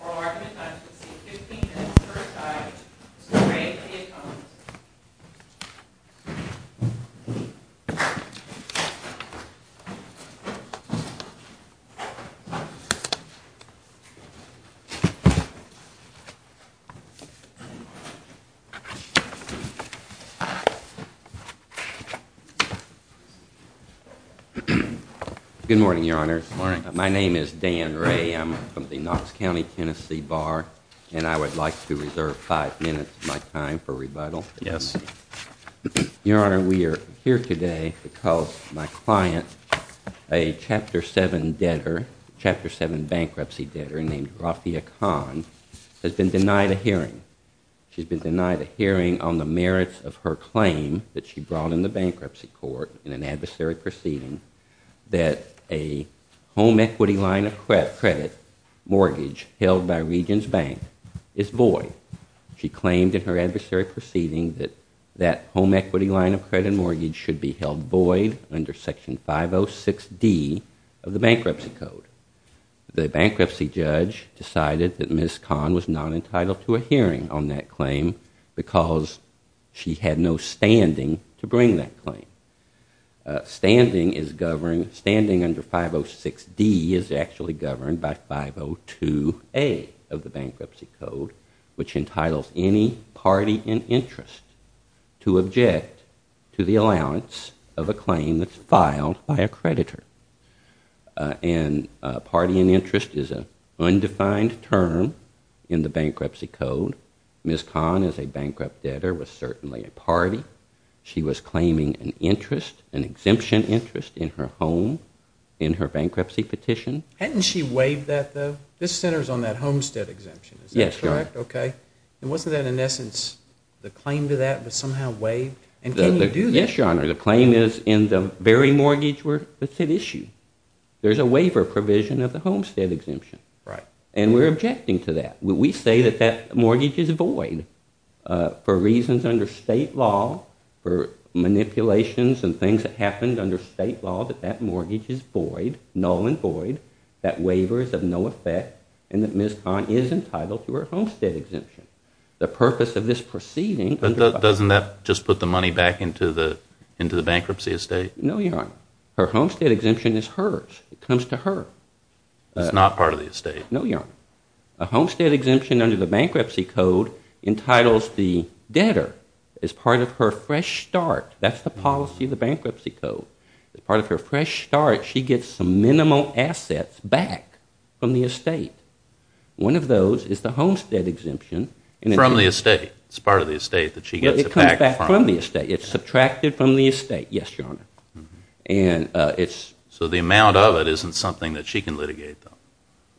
Oral argument not to exceed 15 minutes per side is to degrade the economist. Good morning, Your Honor. My name is Dan Ray. I'm from the Knox County, Tennessee Bar, and I would like to reserve five minutes of my time for rebuttal. Yes. Your Honor, we are here today because my client, a Chapter 7 debtor, Chapter 7 bankruptcy debtor named Rafia Khan, has been denied a hearing. She's been denied a hearing on the merits of her claim that she brought in the bankruptcy court in an adversary proceeding that a home equity line of credit mortgage held by Regions Bank is void. She claimed in her adversary proceeding that that home equity line of credit mortgage should be held void under Section 506D of the Bankruptcy Code. The bankruptcy judge decided that Ms. Khan was not entitled to a hearing on that claim because she had no standing to bring that claim. Standing under 506D is actually governed by 502A of the Bankruptcy Code, which entitles any party in interest to object to the allowance of a claim that's filed by a creditor. And party in interest is an undefined term in the Bankruptcy Code. Ms. Khan, as a bankrupt debtor, was certainly a party. She was claiming an interest, an exemption interest, in her home in her bankruptcy petition. Hadn't she waived that, though? This centers on that homestead exemption, is that correct? Yes, Your Honor. Okay. And wasn't that, in essence, the claim to that was somehow waived? And can you do that? Yes, Your Honor. The claim is in the very mortgage where it's at issue. There's a waiver provision of the homestead exemption. Right. And we're objecting to that. We say that that mortgage is void. For reasons under state law, for manipulations and things that happened under state law, that that mortgage is void, null and void. That waiver is of no effect. And that Ms. Khan is entitled to her homestead exemption. The purpose of this proceeding under the… But doesn't that just put the money back into the bankruptcy estate? No, Your Honor. Her homestead exemption is hers. It comes to her. It's not part of the estate. No, Your Honor. A homestead exemption under the bankruptcy code entitles the debtor as part of her fresh start. That's the policy of the bankruptcy code. As part of her fresh start, she gets some minimal assets back from the estate. One of those is the homestead exemption. From the estate. It's part of the estate that she gets it back from. It comes back from the estate. It's subtracted from the estate. Yes, Your Honor. And it's… So the amount of it isn't something that she can litigate, though?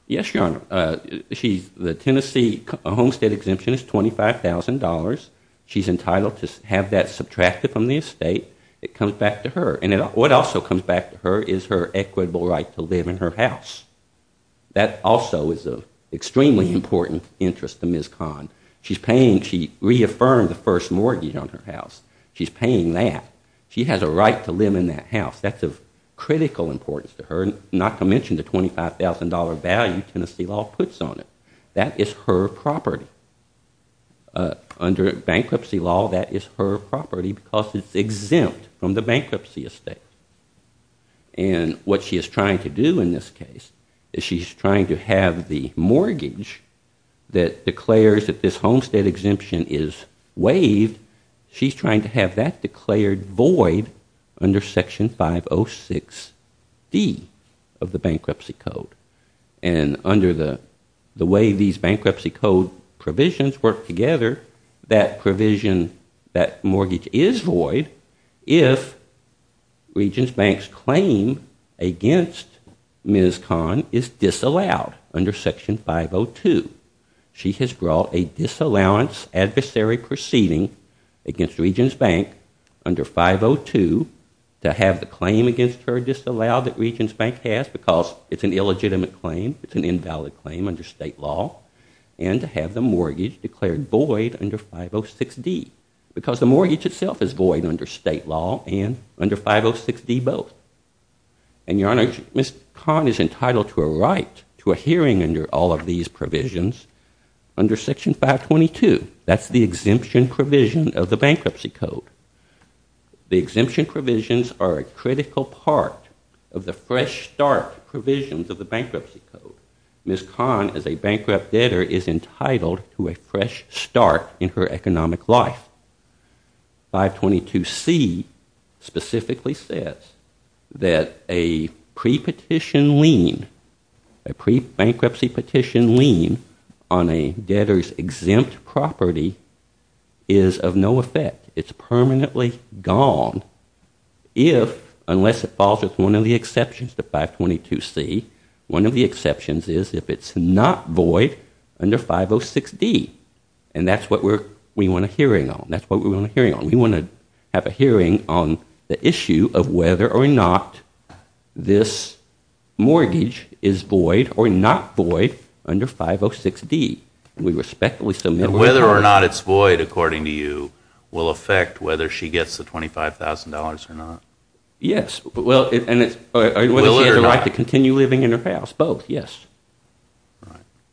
Yes, Your Honor. She's… The Tennessee homestead exemption is $25,000. She's entitled to have that subtracted from the estate. It comes back to her. And what also comes back to her is her equitable right to live in her house. That also is of extremely important interest to Ms. Khan. She's paying… She reaffirmed the first mortgage on her house. She's paying that. She has a right to live in that house. That's of critical importance to her. Not to mention the $25,000 value Tennessee law puts on it. That is her property. Under bankruptcy law, that is her property because it's exempt from the bankruptcy estate. And what she is trying to do in this case is she's trying to have the mortgage that declares that this homestead exemption is waived, she's trying to have that declared void under Section 506D of the bankruptcy code. And under the way these bankruptcy code provisions work together, that provision, that mortgage is void if Regents Bank's claim against Ms. Khan is disallowed under Section 502. She has brought a disallowance adversary proceeding against Regents Bank under 502 to have the claim against her disallowed that Regents Bank has because it's an illegitimate claim, it's an invalid claim under state law, and to have the mortgage declared void under 506D because the mortgage itself is void under state law and under 506D both. And, Your Honor, Ms. Khan is entitled to a right to a hearing under all of these provisions under Section 522. That's the exemption provision of the bankruptcy code. The exemption provisions are a critical part of the fresh start provisions of the bankruptcy code. Ms. Khan, as a bankrupt debtor, is entitled to a fresh start in her economic life. 522C specifically says that a pre-petition lien, a pre-bankruptcy petition lien on a debtor's exempt property is of no effect. It's permanently gone if, unless it falls with one of the exceptions to 522C, one of the exceptions is if it's not void under 506D. And that's what we want a hearing on. That's what we want a hearing on. We want to have a hearing on the issue of whether or not this mortgage is void or not void under 506D. And we respectfully submit... Whether or not it's void, according to you, will affect whether she gets the $25,000 or not. Yes. Whether she has a right to continue living in her house. Both, yes.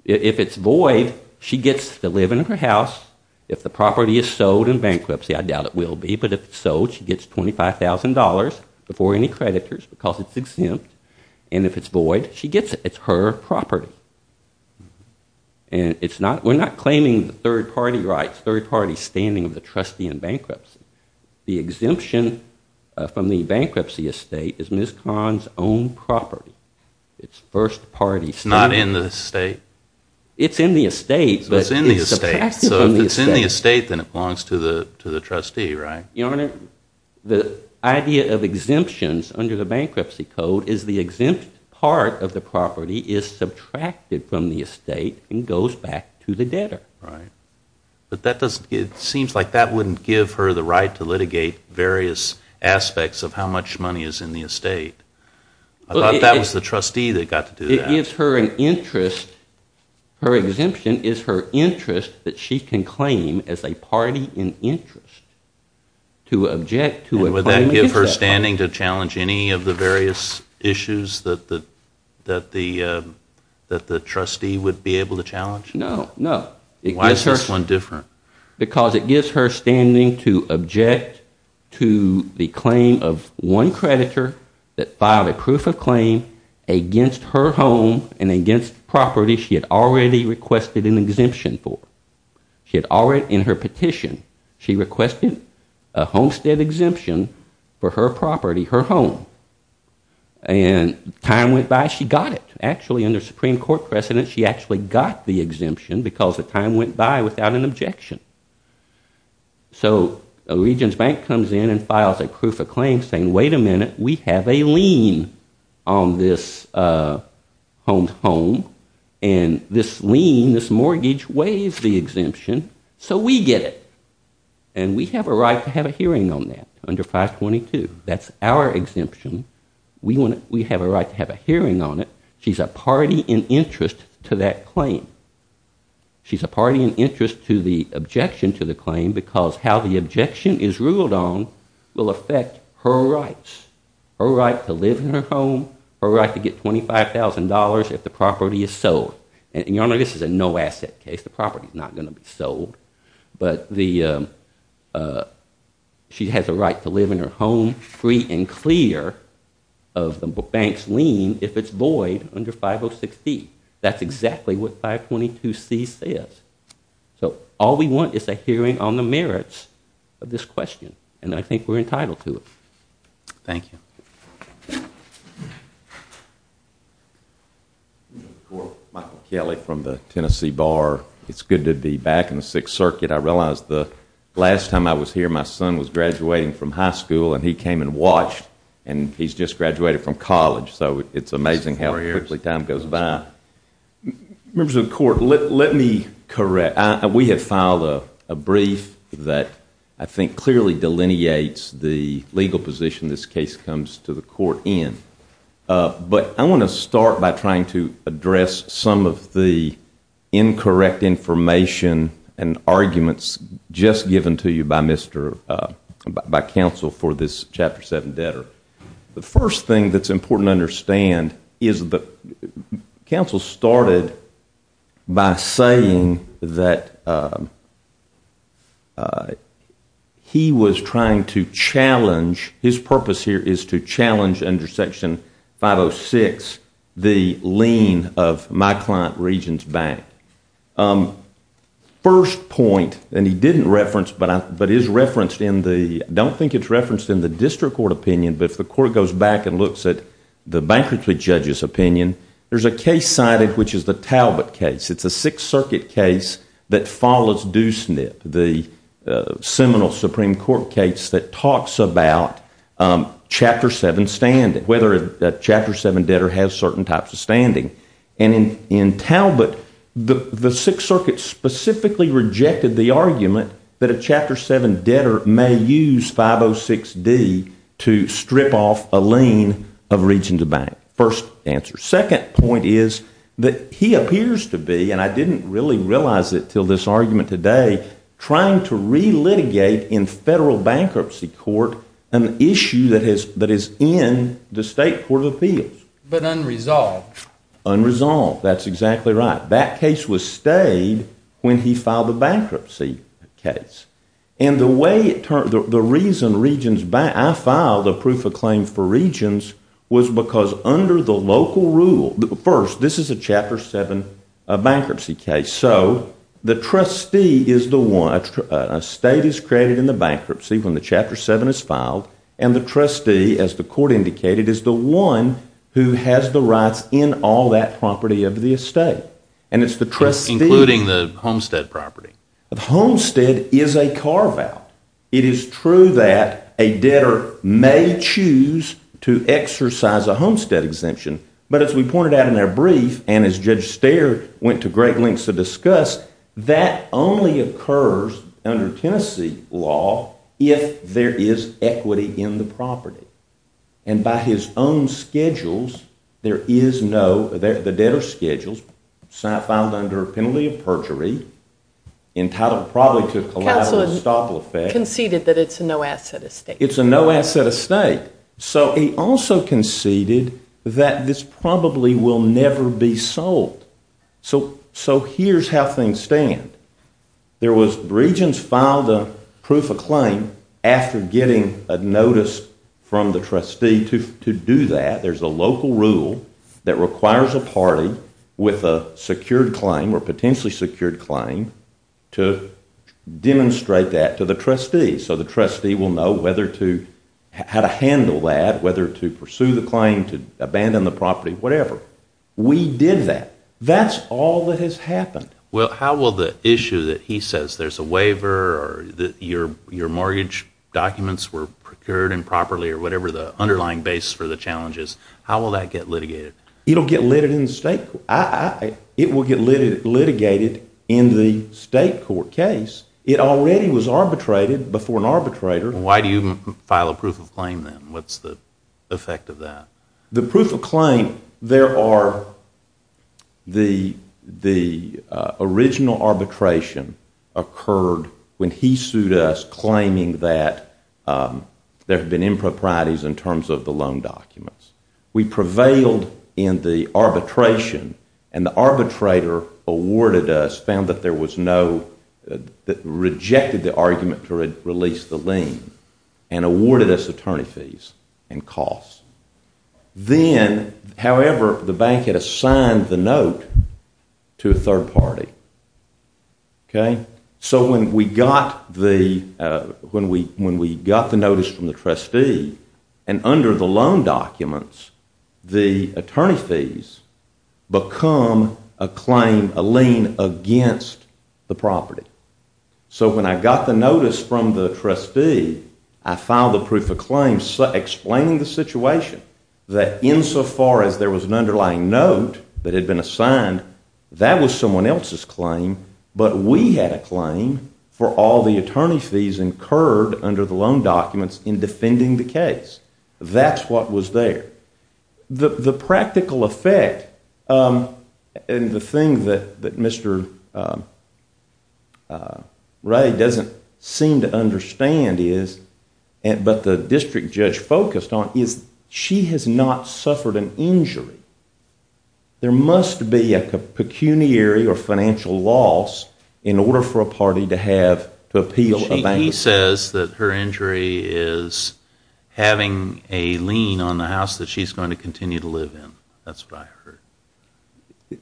If it's void, she gets to live in her house. If the property is sold in bankruptcy, I doubt it will be, but if it's sold, she gets $25,000 before any creditors because it's exempt. And if it's void, she gets it. It's her property. And it's not... We're not claiming third-party rights, third-party standing of the trustee in bankruptcy. The exemption from the bankruptcy estate is Ms. Khan's own property. It's first-party standing. It's not in the estate? It's in the estate, but it's subtracted from the estate. So if it's in the estate, then it belongs to the trustee, right? Your Honor, the idea of exemptions under the bankruptcy code is the exempt part of the property is subtracted from the estate and goes back to the debtor. Right. But that doesn't... It seems like that wouldn't give her the right to litigate various aspects of how much money is in the estate. I thought that was the trustee that got to do that. It gives her an interest. Her exemption is her interest that she can claim as a party in interest to object to a claim... And would that give her standing to challenge any of the various issues that the trustee would be able to challenge? No, no. Why is this one different? Because it gives her standing to object to the claim of one creditor that filed a proof of claim against her home and against property she had already requested an exemption for. She had already, in her petition, she requested a homestead exemption for her property, her home. And time went by, she got it. Actually, under Supreme Court precedent, she actually got the exemption because the time went by without an objection. So a region's bank comes in and files a proof of claim saying, wait a minute, we have a lien on this home. And this lien, this mortgage, weighs the exemption, so we get it. And we have a right to have a hearing on that under 522. That's our exemption. We have a right to have a hearing on it. She's a party in interest to that claim. She's a party in interest to the objection to the claim because how the objection is ruled on will affect her rights. Her right to live in her home, her right to get $25,000 if the property is sold. And, Your Honor, this is a no-asset case. The property's not going to be sold. But she has a right to live in her home free and clear of the bank's lien if it's void under 506d. That's exactly what 522c says. So all we want is a hearing on the merits of this question. And I think we're entitled to it. Thank you. Michael Kelly from the Tennessee Bar. It's good to be back in the Sixth Circuit. I realize the last time I was here, my son was graduating from high school and he came and watched. And he's just graduated from college, so it's amazing how quickly time goes by. Members of the Court, let me correct. We have filed a brief that I think clearly delineates the legal position this case comes to the Court in. But I want to start by trying to address some of the incorrect information and arguments just given to you by counsel for this Chapter 7 debtor. The first thing that's important to understand is that counsel started by saying that he was trying to challenge, his purpose here is to challenge under Section 506, the lien of my client Regents Bank. First point, and he didn't reference, but is referenced in the, I don't think it's referenced in the District Court opinion, but if the Court goes back and looks at the Bankruptcy Judge's opinion, there's a case cited, which is the Talbot case. It's a Sixth Circuit case that follows DUSNIP, the Seminole Supreme Court case that talks about Chapter 7 standing, whether a Chapter 7 debtor has certain types of standing. And in Talbot, the Sixth Circuit specifically rejected the argument that a Chapter 7 debtor may use 506D to strip off a lien of Regents Bank. First answer. Second point is that he appears to be, and I didn't really realize it until this argument today, trying to re-litigate in Federal Bankruptcy Court an issue that is in the State Court of Appeals. But unresolved. Unresolved, that's exactly right. That case was stayed when he filed the bankruptcy case. And the reason Regents Bank, I filed a proof of claim for Regents was because under the local rule, first, this is a Chapter 7 bankruptcy case, so the trustee is the one, a state is created in the bankruptcy when the Chapter 7 is filed, and the trustee, as the Court indicated, is the one who has the rights in all that property of the estate. And it's the trustee. Including the Homestead property. The Homestead is a carve-out. It is true that a debtor may choose to exercise a Homestead exemption, but as we pointed out in our brief, and as Judge Steyer went to great lengths to discuss, that only occurs under Tennessee law if there is equity in the property. And by his own schedules, there is no, the debtor schedules, filed under a penalty of perjury, entitled probably to a collateral estoppel effect. Counsel conceded that it's a no-asset estate. It's a no-asset estate. So he also conceded that this probably will never be sold. So here's how things stand. There was, Regents filed a proof of claim after getting a notice from the trustee to do that. There's a local rule that requires a party with a secured claim, or potentially secured claim, to demonstrate that to the trustee. So the trustee will know whether to, how to handle that, whether to pursue the claim, to abandon the property, whatever. We did that. That's all that has happened. Well, how will the issue that he says, there's a waiver, or your mortgage documents were procured improperly, or whatever the underlying basis for the challenge is, how will that get litigated? It will get litigated in the state court case. It already was arbitrated before an arbitrator. Why do you file a proof of claim then? What's the effect of that? The proof of claim, there are, the original arbitration occurred when he sued us claiming that there had been improprieties in terms of the loan documents. We prevailed in the arbitration, and the arbitrator awarded us, found that there was no, rejected the argument to release the lien, and awarded us attorney fees and costs. Then, however, the bank had assigned the note to a third party. So when we got the notice from the trustee, and under the loan documents, the attorney fees become a claim, a lien against the property. So when I got the notice from the trustee, I filed a proof of claim explaining the situation, that insofar as there was an underlying note that had been assigned, that was someone else's claim, but we had a claim for all the attorney fees incurred under the loan documents in defending the case. That's what was there. The practical effect, and the thing that Mr. Ray doesn't seem to understand is, but the district judge focused on, is she has not suffered an injury. There must be a pecuniary or financial loss in order for a party to appeal a bank loan. He says that her injury is having a lien on the house that she's going to continue to live in. That's what I heard.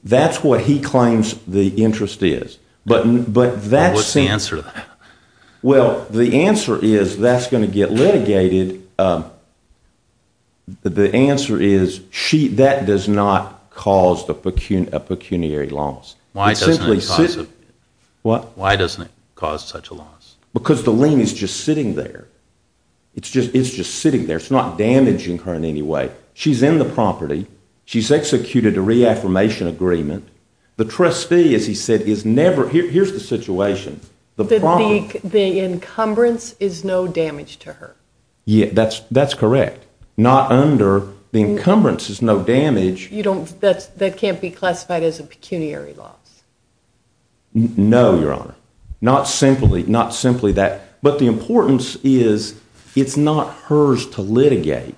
That's what he claims the interest is. What's the answer to that? Well, the answer is that's going to get litigated. The answer is that does not cause a pecuniary loss. Why doesn't it cause such a loss? Because the lien is just sitting there. It's just sitting there. It's not damaging her in any way. She's in the property. She's executed a reaffirmation agreement. The trustee, as he said, is never, here's the situation, the problem. The encumbrance is no damage to her. That's correct. Not under, the encumbrance is no damage. That can't be classified as a pecuniary loss. No, Your Honor. Not simply that. But the importance is it's not hers to litigate.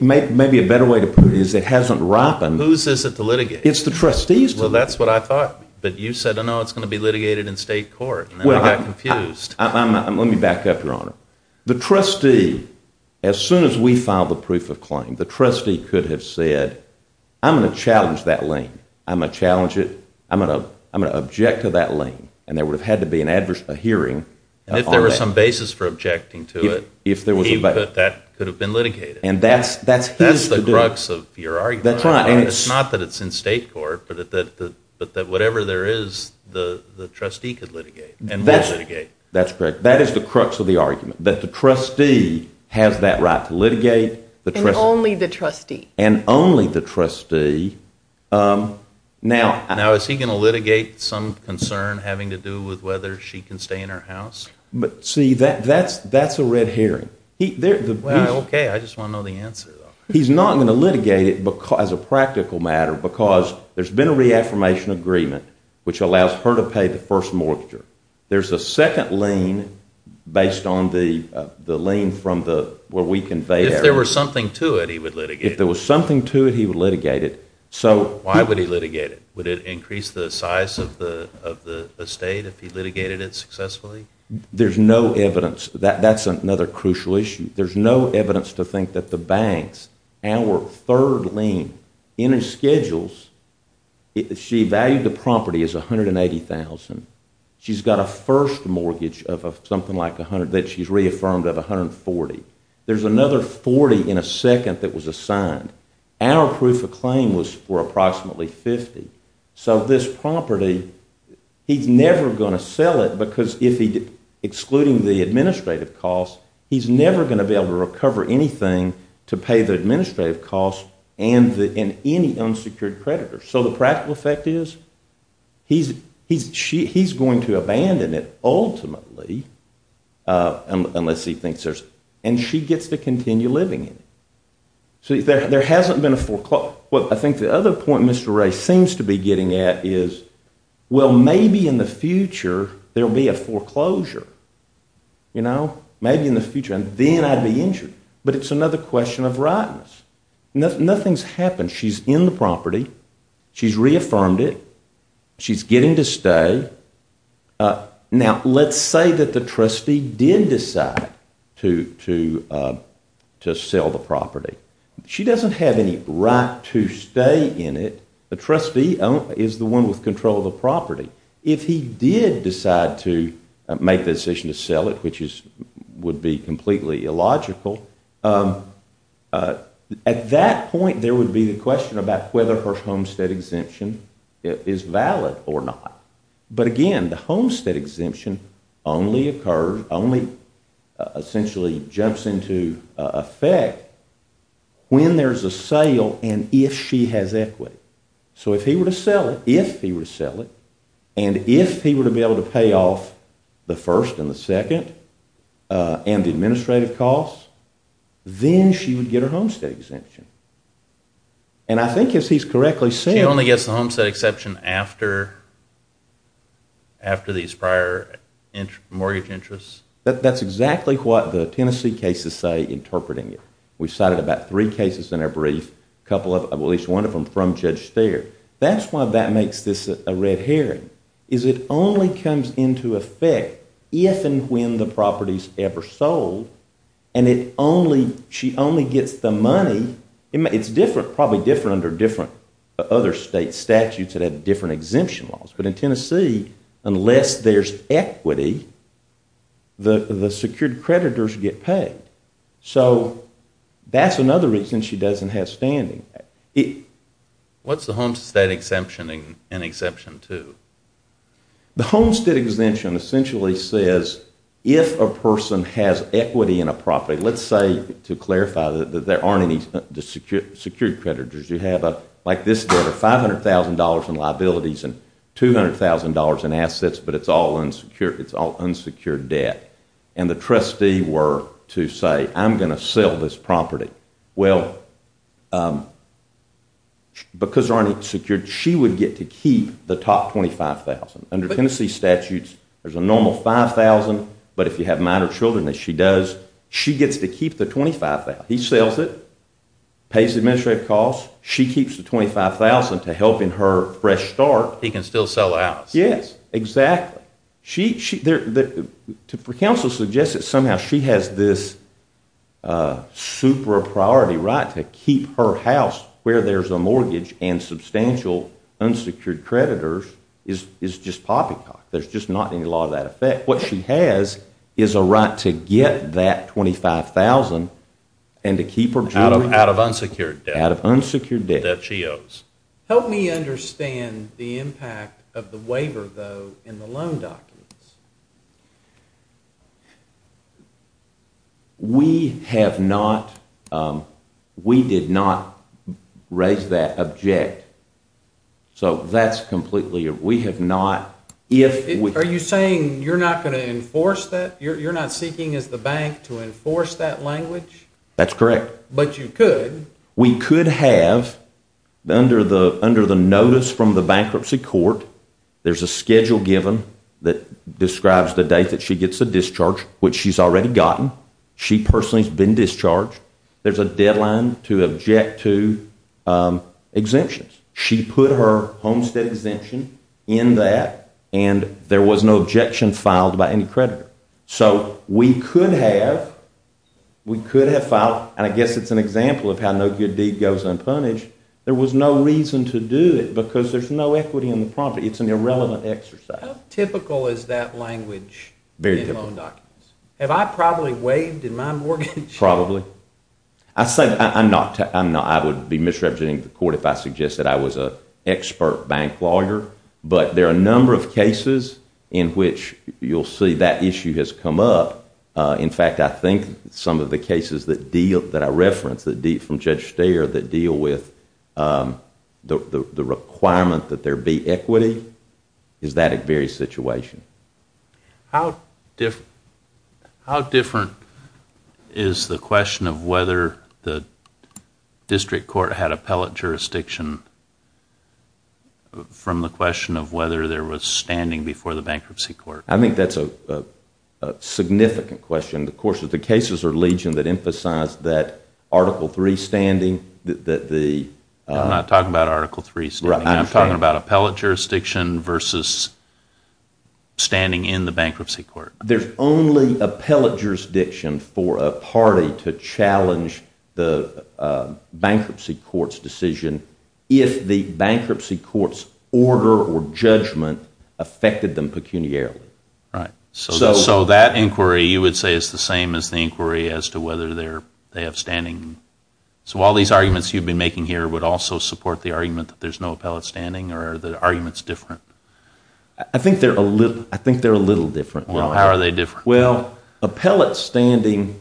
Maybe a better way to put it is it hasn't happened. Whose is it to litigate? It's the trustee's. Well, that's what I thought. But you said, no, it's going to be litigated in state court. I got confused. Let me back up, Your Honor. The trustee, as soon as we filed the proof of claim, the trustee could have said, I'm going to challenge that lien. I'm going to challenge it. I'm going to object to that lien. And there would have had to be a hearing on that. If there was some basis for objecting to it, he could have been litigated. And that's his to do. That's the crux of your argument. That's right. And it's not that it's in state court, but that whatever there is, the trustee could litigate. And he'll litigate. That's correct. That is the crux of the argument, that the trustee has that right to litigate. And only the trustee. And only the trustee. Now, is he going to litigate some concern having to do with whether she can stay in her house? See, that's a red herring. Okay, I just want to know the answer, though. He's not going to litigate it as a practical matter, because there's been a reaffirmation agreement, which allows her to pay the first mortgage. There's a second lien based on the lien from where we conveyed it. If there was something to it, he would litigate it. If there was something to it, he would litigate it. Why would he litigate it? Would it increase the size of the estate if he litigated it successfully? There's no evidence. That's another crucial issue. There's no evidence to think that the banks, our third lien in his schedules, she valued the property as $180,000. She's got a first mortgage of something like $100,000 that she's reaffirmed of $140,000. There's another $40,000 in a second that was assigned. Our proof of claim was for approximately $50,000. So this property, he's never going to sell it, because excluding the administrative costs, he's never going to be able to recover anything to pay the administrative costs and any unsecured creditors. So the practical effect is he's going to abandon it ultimately, unless he thinks there's... And she gets to continue living in it. So there hasn't been a foreclosure. Well, I think the other point Mr. Ray seems to be getting at is, well, maybe in the future there'll be a foreclosure. You know? Maybe in the future. And then I'd be injured. But it's another question of rightness. Nothing's happened. She's in the property. She's reaffirmed it. She's getting to stay. Now, let's say that the trustee did decide to sell the property. She doesn't have any right to stay in it. The trustee is the one with control of the property. If he did decide to make the decision to sell it, which would be completely illogical, at that point there would be the question about whether her homestead exemption is valid or not. But again, the homestead exemption only occurs, only essentially jumps into effect when there's a sale and if she has equity. So if he were to sell it, if he were to sell it, and if he were to be able to pay off the first and the second and the administrative costs, then she would get her homestead exemption. And I think if he's correctly saying... Homestead exception after these prior mortgage interests? That's exactly what the Tennessee cases say, interpreting it. We've cited about three cases in our brief, at least one of them from Judge Steyer. That's why that makes this a red herring, is it only comes into effect if and when the property's ever sold and she only gets the money. It's probably different under different other state statutes that have different exemption laws. But in Tennessee, unless there's equity, the secured creditors get paid. So that's another reason she doesn't have standing. What's the homestead exemption in Exemption 2? The homestead exemption essentially says if a person has equity in a property, let's say, to clarify, that there aren't any secured creditors. You have, like this debtor, $500,000 in liabilities and $200,000 in assets, but it's all unsecured debt. And the trustee were to say, I'm going to sell this property. Well, because there aren't any secured, she would get to keep the top $25,000. Under Tennessee statutes, there's a normal $5,000, but if you have minor children, as she does, she gets to keep the $25,000. He sells it, pays the administrative costs, she keeps the $25,000 to help in her fresh start. He can still sell it out. Yes, exactly. For counsel to suggest that somehow she has this super priority right to keep her house where there's a mortgage and substantial unsecured creditors is just poppycock. There's just not any law to that effect. What she has is a right to get that $25,000 and to keep her children out of unsecured debt that she owes. Help me understand the impact of the waiver, though, in the loan documents. We have not, we did not raise that object. So that's completely, we have not. Are you saying you're not going to enforce that? You're not seeking, as the bank, to enforce that language? That's correct. But you could. We could have, under the notice from the bankruptcy court, there's a schedule given that describes the date that she gets a discharge, which she's already gotten. She personally has been discharged. There's a deadline to object to exemptions. She put her homestead exemption in that and there was no objection filed by any creditor. So we could have, we could have filed, and I guess it's an example of how no good deed goes unpunished. There was no reason to do it because there's no equity in the property. It's an irrelevant exercise. How typical is that language in loan documents? Very typical. Have I probably waived in my mortgage? Probably. I say, I'm not, I would be misrepresenting the court if I suggested I was an expert bank lawyer, but there are a number of cases in which you'll see that issue has come up. In fact, I think some of the cases that deal, that I referenced from Judge Steyer that deal with the requirement that there be equity is that very situation. How different is the question of whether the district court had appellate jurisdiction from the question of whether there was standing before the bankruptcy court? I think that's a significant question. Of course, the cases are legion that emphasize that Article III standing, that the... I'm not talking about Article III standing. I'm talking about appellate jurisdiction versus standing in the bankruptcy court. There's only appellate jurisdiction for a party to challenge the bankruptcy court's decision if the bankruptcy court's order or judgment affected them pecuniarily. Right. So that inquiry you would say is the same as the inquiry as to whether they have standing. So all these arguments you've been making here would also support the argument that there's no appellate standing or are the arguments different? I think they're a little different. How are they different? Well, appellate standing...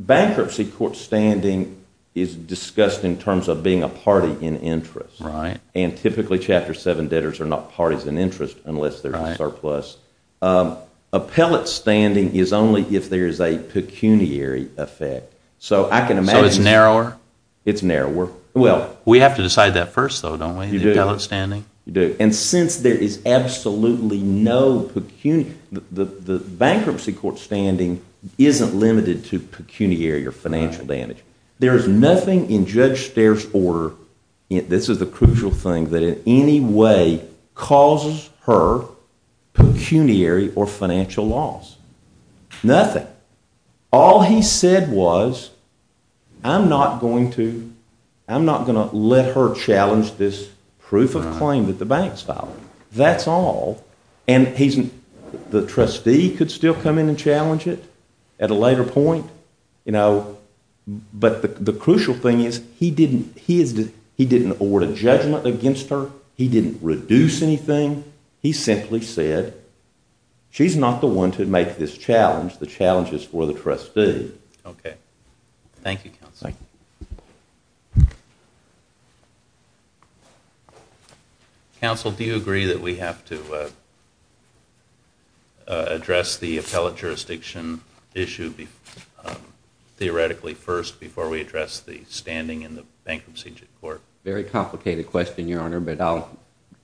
Bankruptcy court standing is discussed in terms of being a party in interest. Right. And typically, Chapter VII debtors are not parties in interest unless there's a surplus. Appellate standing is only if there's a pecuniary effect. So I can imagine... So it's narrower? It's narrower. Well... We have to decide that first, though, don't we, in appellate standing? You do. You do. And since there is absolutely no pecuniary... The bankruptcy court standing isn't limited to pecuniary or financial damage. There is nothing in Judge Steyer's order, this is the crucial thing, that in any way causes her pecuniary or financial loss. Nothing. All he said was, I'm not going to let her challenge this proof of claim that the banks filed. That's all. And the trustee could still come in and challenge it at a later point. But the crucial thing is he didn't award a judgment against her. He didn't reduce anything. He simply said, She's not the one to make this challenge. The challenge is for the trustee. Okay. Thank you, Counsel. Thank you. Counsel, do you agree that we have to address the appellate jurisdiction issue theoretically first before we address the standing in the bankruptcy court? Very complicated question, Your Honor, but I'll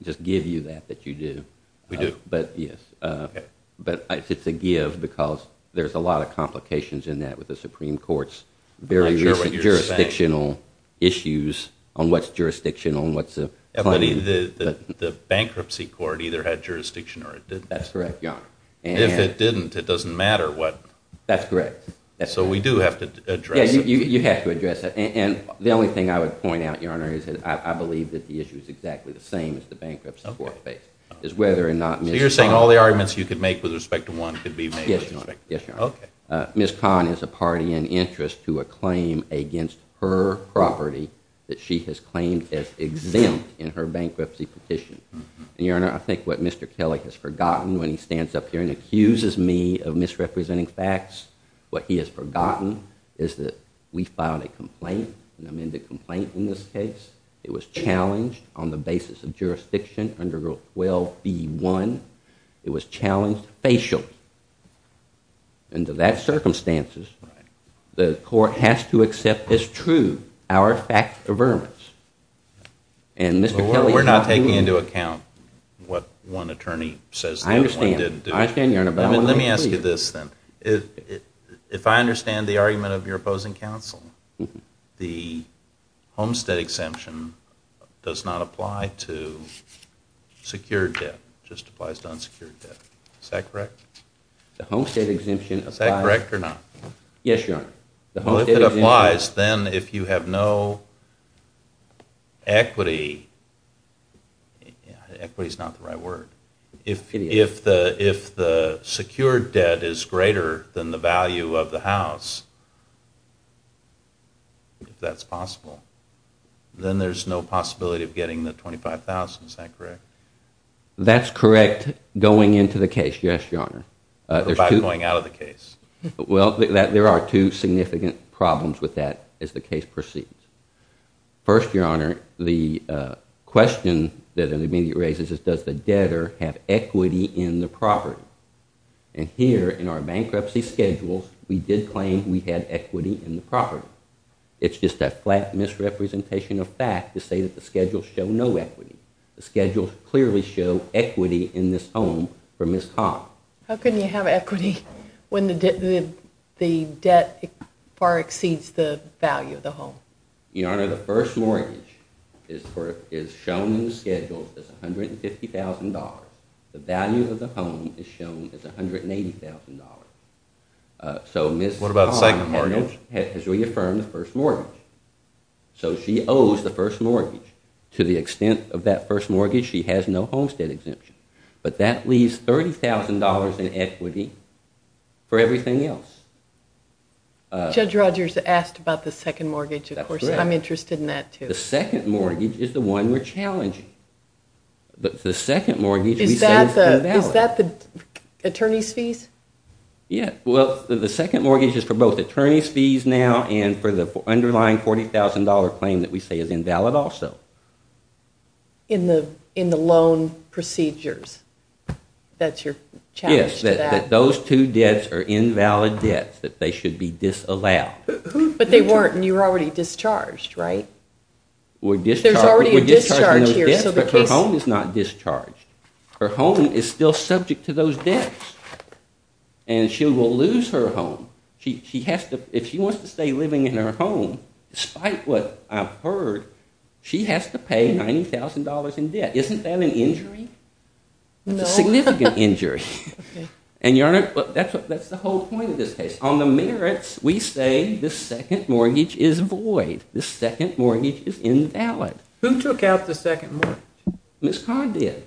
just give you that, that you do. We do? Yes. Okay. But it's a give because there's a lot of complications in that with the Supreme Court's very recent jurisdictional issues on what's jurisdictional and what's a claim. The bankruptcy court either had jurisdiction or it didn't. That's correct, Your Honor. And if it didn't, it doesn't matter what. That's correct. So we do have to address it. Yes, you have to address it. And the only thing I would point out, Your Honor, is that I believe that the issue is exactly the same as the bankruptcy court faced. So you're saying all the arguments you could make with respect to one could be made with respect to one. Yes, Your Honor. Okay. Ms. Kahn is a party in interest to a claim against her property that she has claimed as exempt in her bankruptcy petition. And, Your Honor, I think what Mr. Kelly has forgotten when he stands up here and accuses me of misrepresenting facts, what he has forgotten is that we filed a complaint, an amended complaint in this case. It was challenged on the basis of jurisdiction under Rule 12b-1. It was challenged facially. And to that circumstances, the court has to accept as true our fact averments. And Mr. Kelly has to... We're not taking into account what one attorney says the other one didn't do. I understand, Your Honor. But let me ask you this then. If I understand the argument of your opposing counsel, the homestead exemption does not apply to secured debt. It just applies to unsecured debt. Is that correct? The homestead exemption applies... Is that correct or not? Yes, Your Honor. Well, if it applies, then if you have no equity... Equity is not the right word. If the secured debt is greater than the value of the house, if that's possible, then there's no possibility of getting the $25,000. Is that correct? That's correct going into the case, yes, Your Honor. What about going out of the case? Well, there are two significant problems with that as the case proceeds. First, Your Honor, the question that it immediately raises is does the debtor have equity in the property? And here in our bankruptcy schedules, we did claim we had equity in the property. It's just a flat misrepresentation of fact to say that the schedules show no equity. The schedules clearly show equity in this home for Ms. Cobb. How can you have equity when the debt far exceeds the value of the home? Your Honor, the first mortgage is shown in the schedules as $150,000. The value of the home is shown as $180,000. So Ms. Cobb has reaffirmed the first mortgage. So she owes the first mortgage. To the extent of that first mortgage, she has no homestead exemption. But that leaves $30,000 in equity for everything else. Judge Rogers asked about the second mortgage, of course. I'm interested in that, too. The second mortgage is the one we're challenging. But the second mortgage we say is invalid. Is that the attorney's fees? Yeah. Well, the second mortgage is for both attorney's fees now and for the underlying $40,000 claim that we say is invalid also. In the loan procedures? That's your challenge to that? That those two debts are invalid debts, that they should be disallowed. But they weren't, and you were already discharged, right? We're discharging those debts, but her home is not discharged. Her home is still subject to those debts, and she will lose her home. If she wants to stay living in her home, despite what I've heard, she has to pay $90,000 in debt. Isn't that an injury? No. That's a significant injury. And your Honor, that's the whole point of this case. On the merits, we say the second mortgage is void. The second mortgage is invalid. Who took out the second mortgage? Ms. Codd did.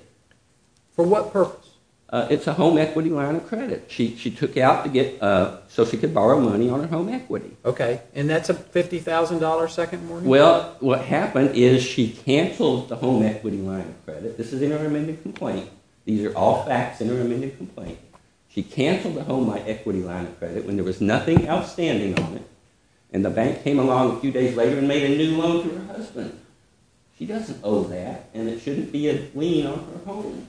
For what purpose? It's a home equity line of credit. She took it out so she could borrow money on her home equity. OK. And that's a $50,000 second mortgage? Well, what happened is she canceled the home equity line of credit. This is an inter-amendment complaint. These are all facts, inter-amendment complaint. She canceled the home equity line of credit when there was nothing outstanding on it, and the bank came along a few days later and made a new loan to her husband. She doesn't owe that, and it shouldn't be a lien on her home.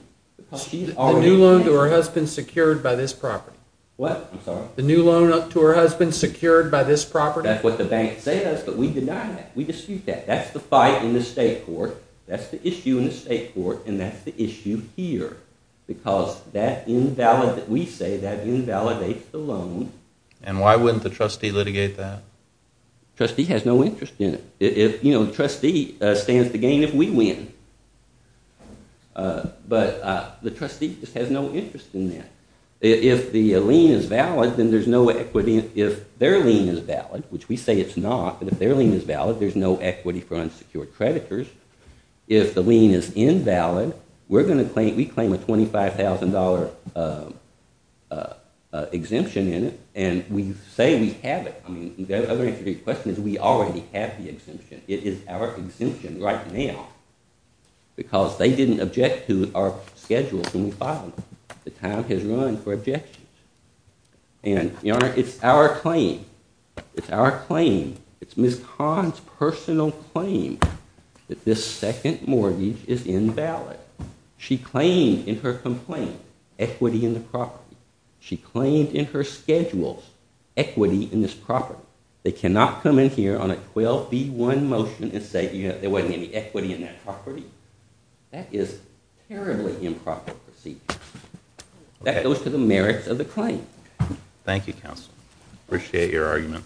The new loan to her husband secured by this property? What? I'm sorry? The new loan to her husband secured by this property? That's what the bank says, but we deny that. We dispute that. That's the fight in the state court. That's the issue in the state court, and that's the issue here, because we say that invalidates the loan. And why wouldn't the trustee litigate that? The trustee has no interest in it. You know, the trustee stands to gain if we win, but the trustee just has no interest in that. If the lien is valid, then there's no equity. If their lien is valid, which we say it's not, but if their lien is valid, there's no equity for unsecured creditors. If the lien is invalid, we claim a $25,000 exemption in it, and we say we have it. I mean, the other answer to your question is we already have the exemption. It is our exemption right now, because they didn't object to our schedules when we filed them. The time has run for objections. And, Your Honor, it's our claim. It's our claim. It's Ms. Cahn's personal claim that this second mortgage is invalid. She claimed in her complaint equity in the property. She claimed in her schedules equity in this property. They cannot come in here on a 12B1 motion and say there wasn't any equity in that property. That is terribly improper procedure. That goes to the merits of the claim. Thank you, counsel. Appreciate your argument.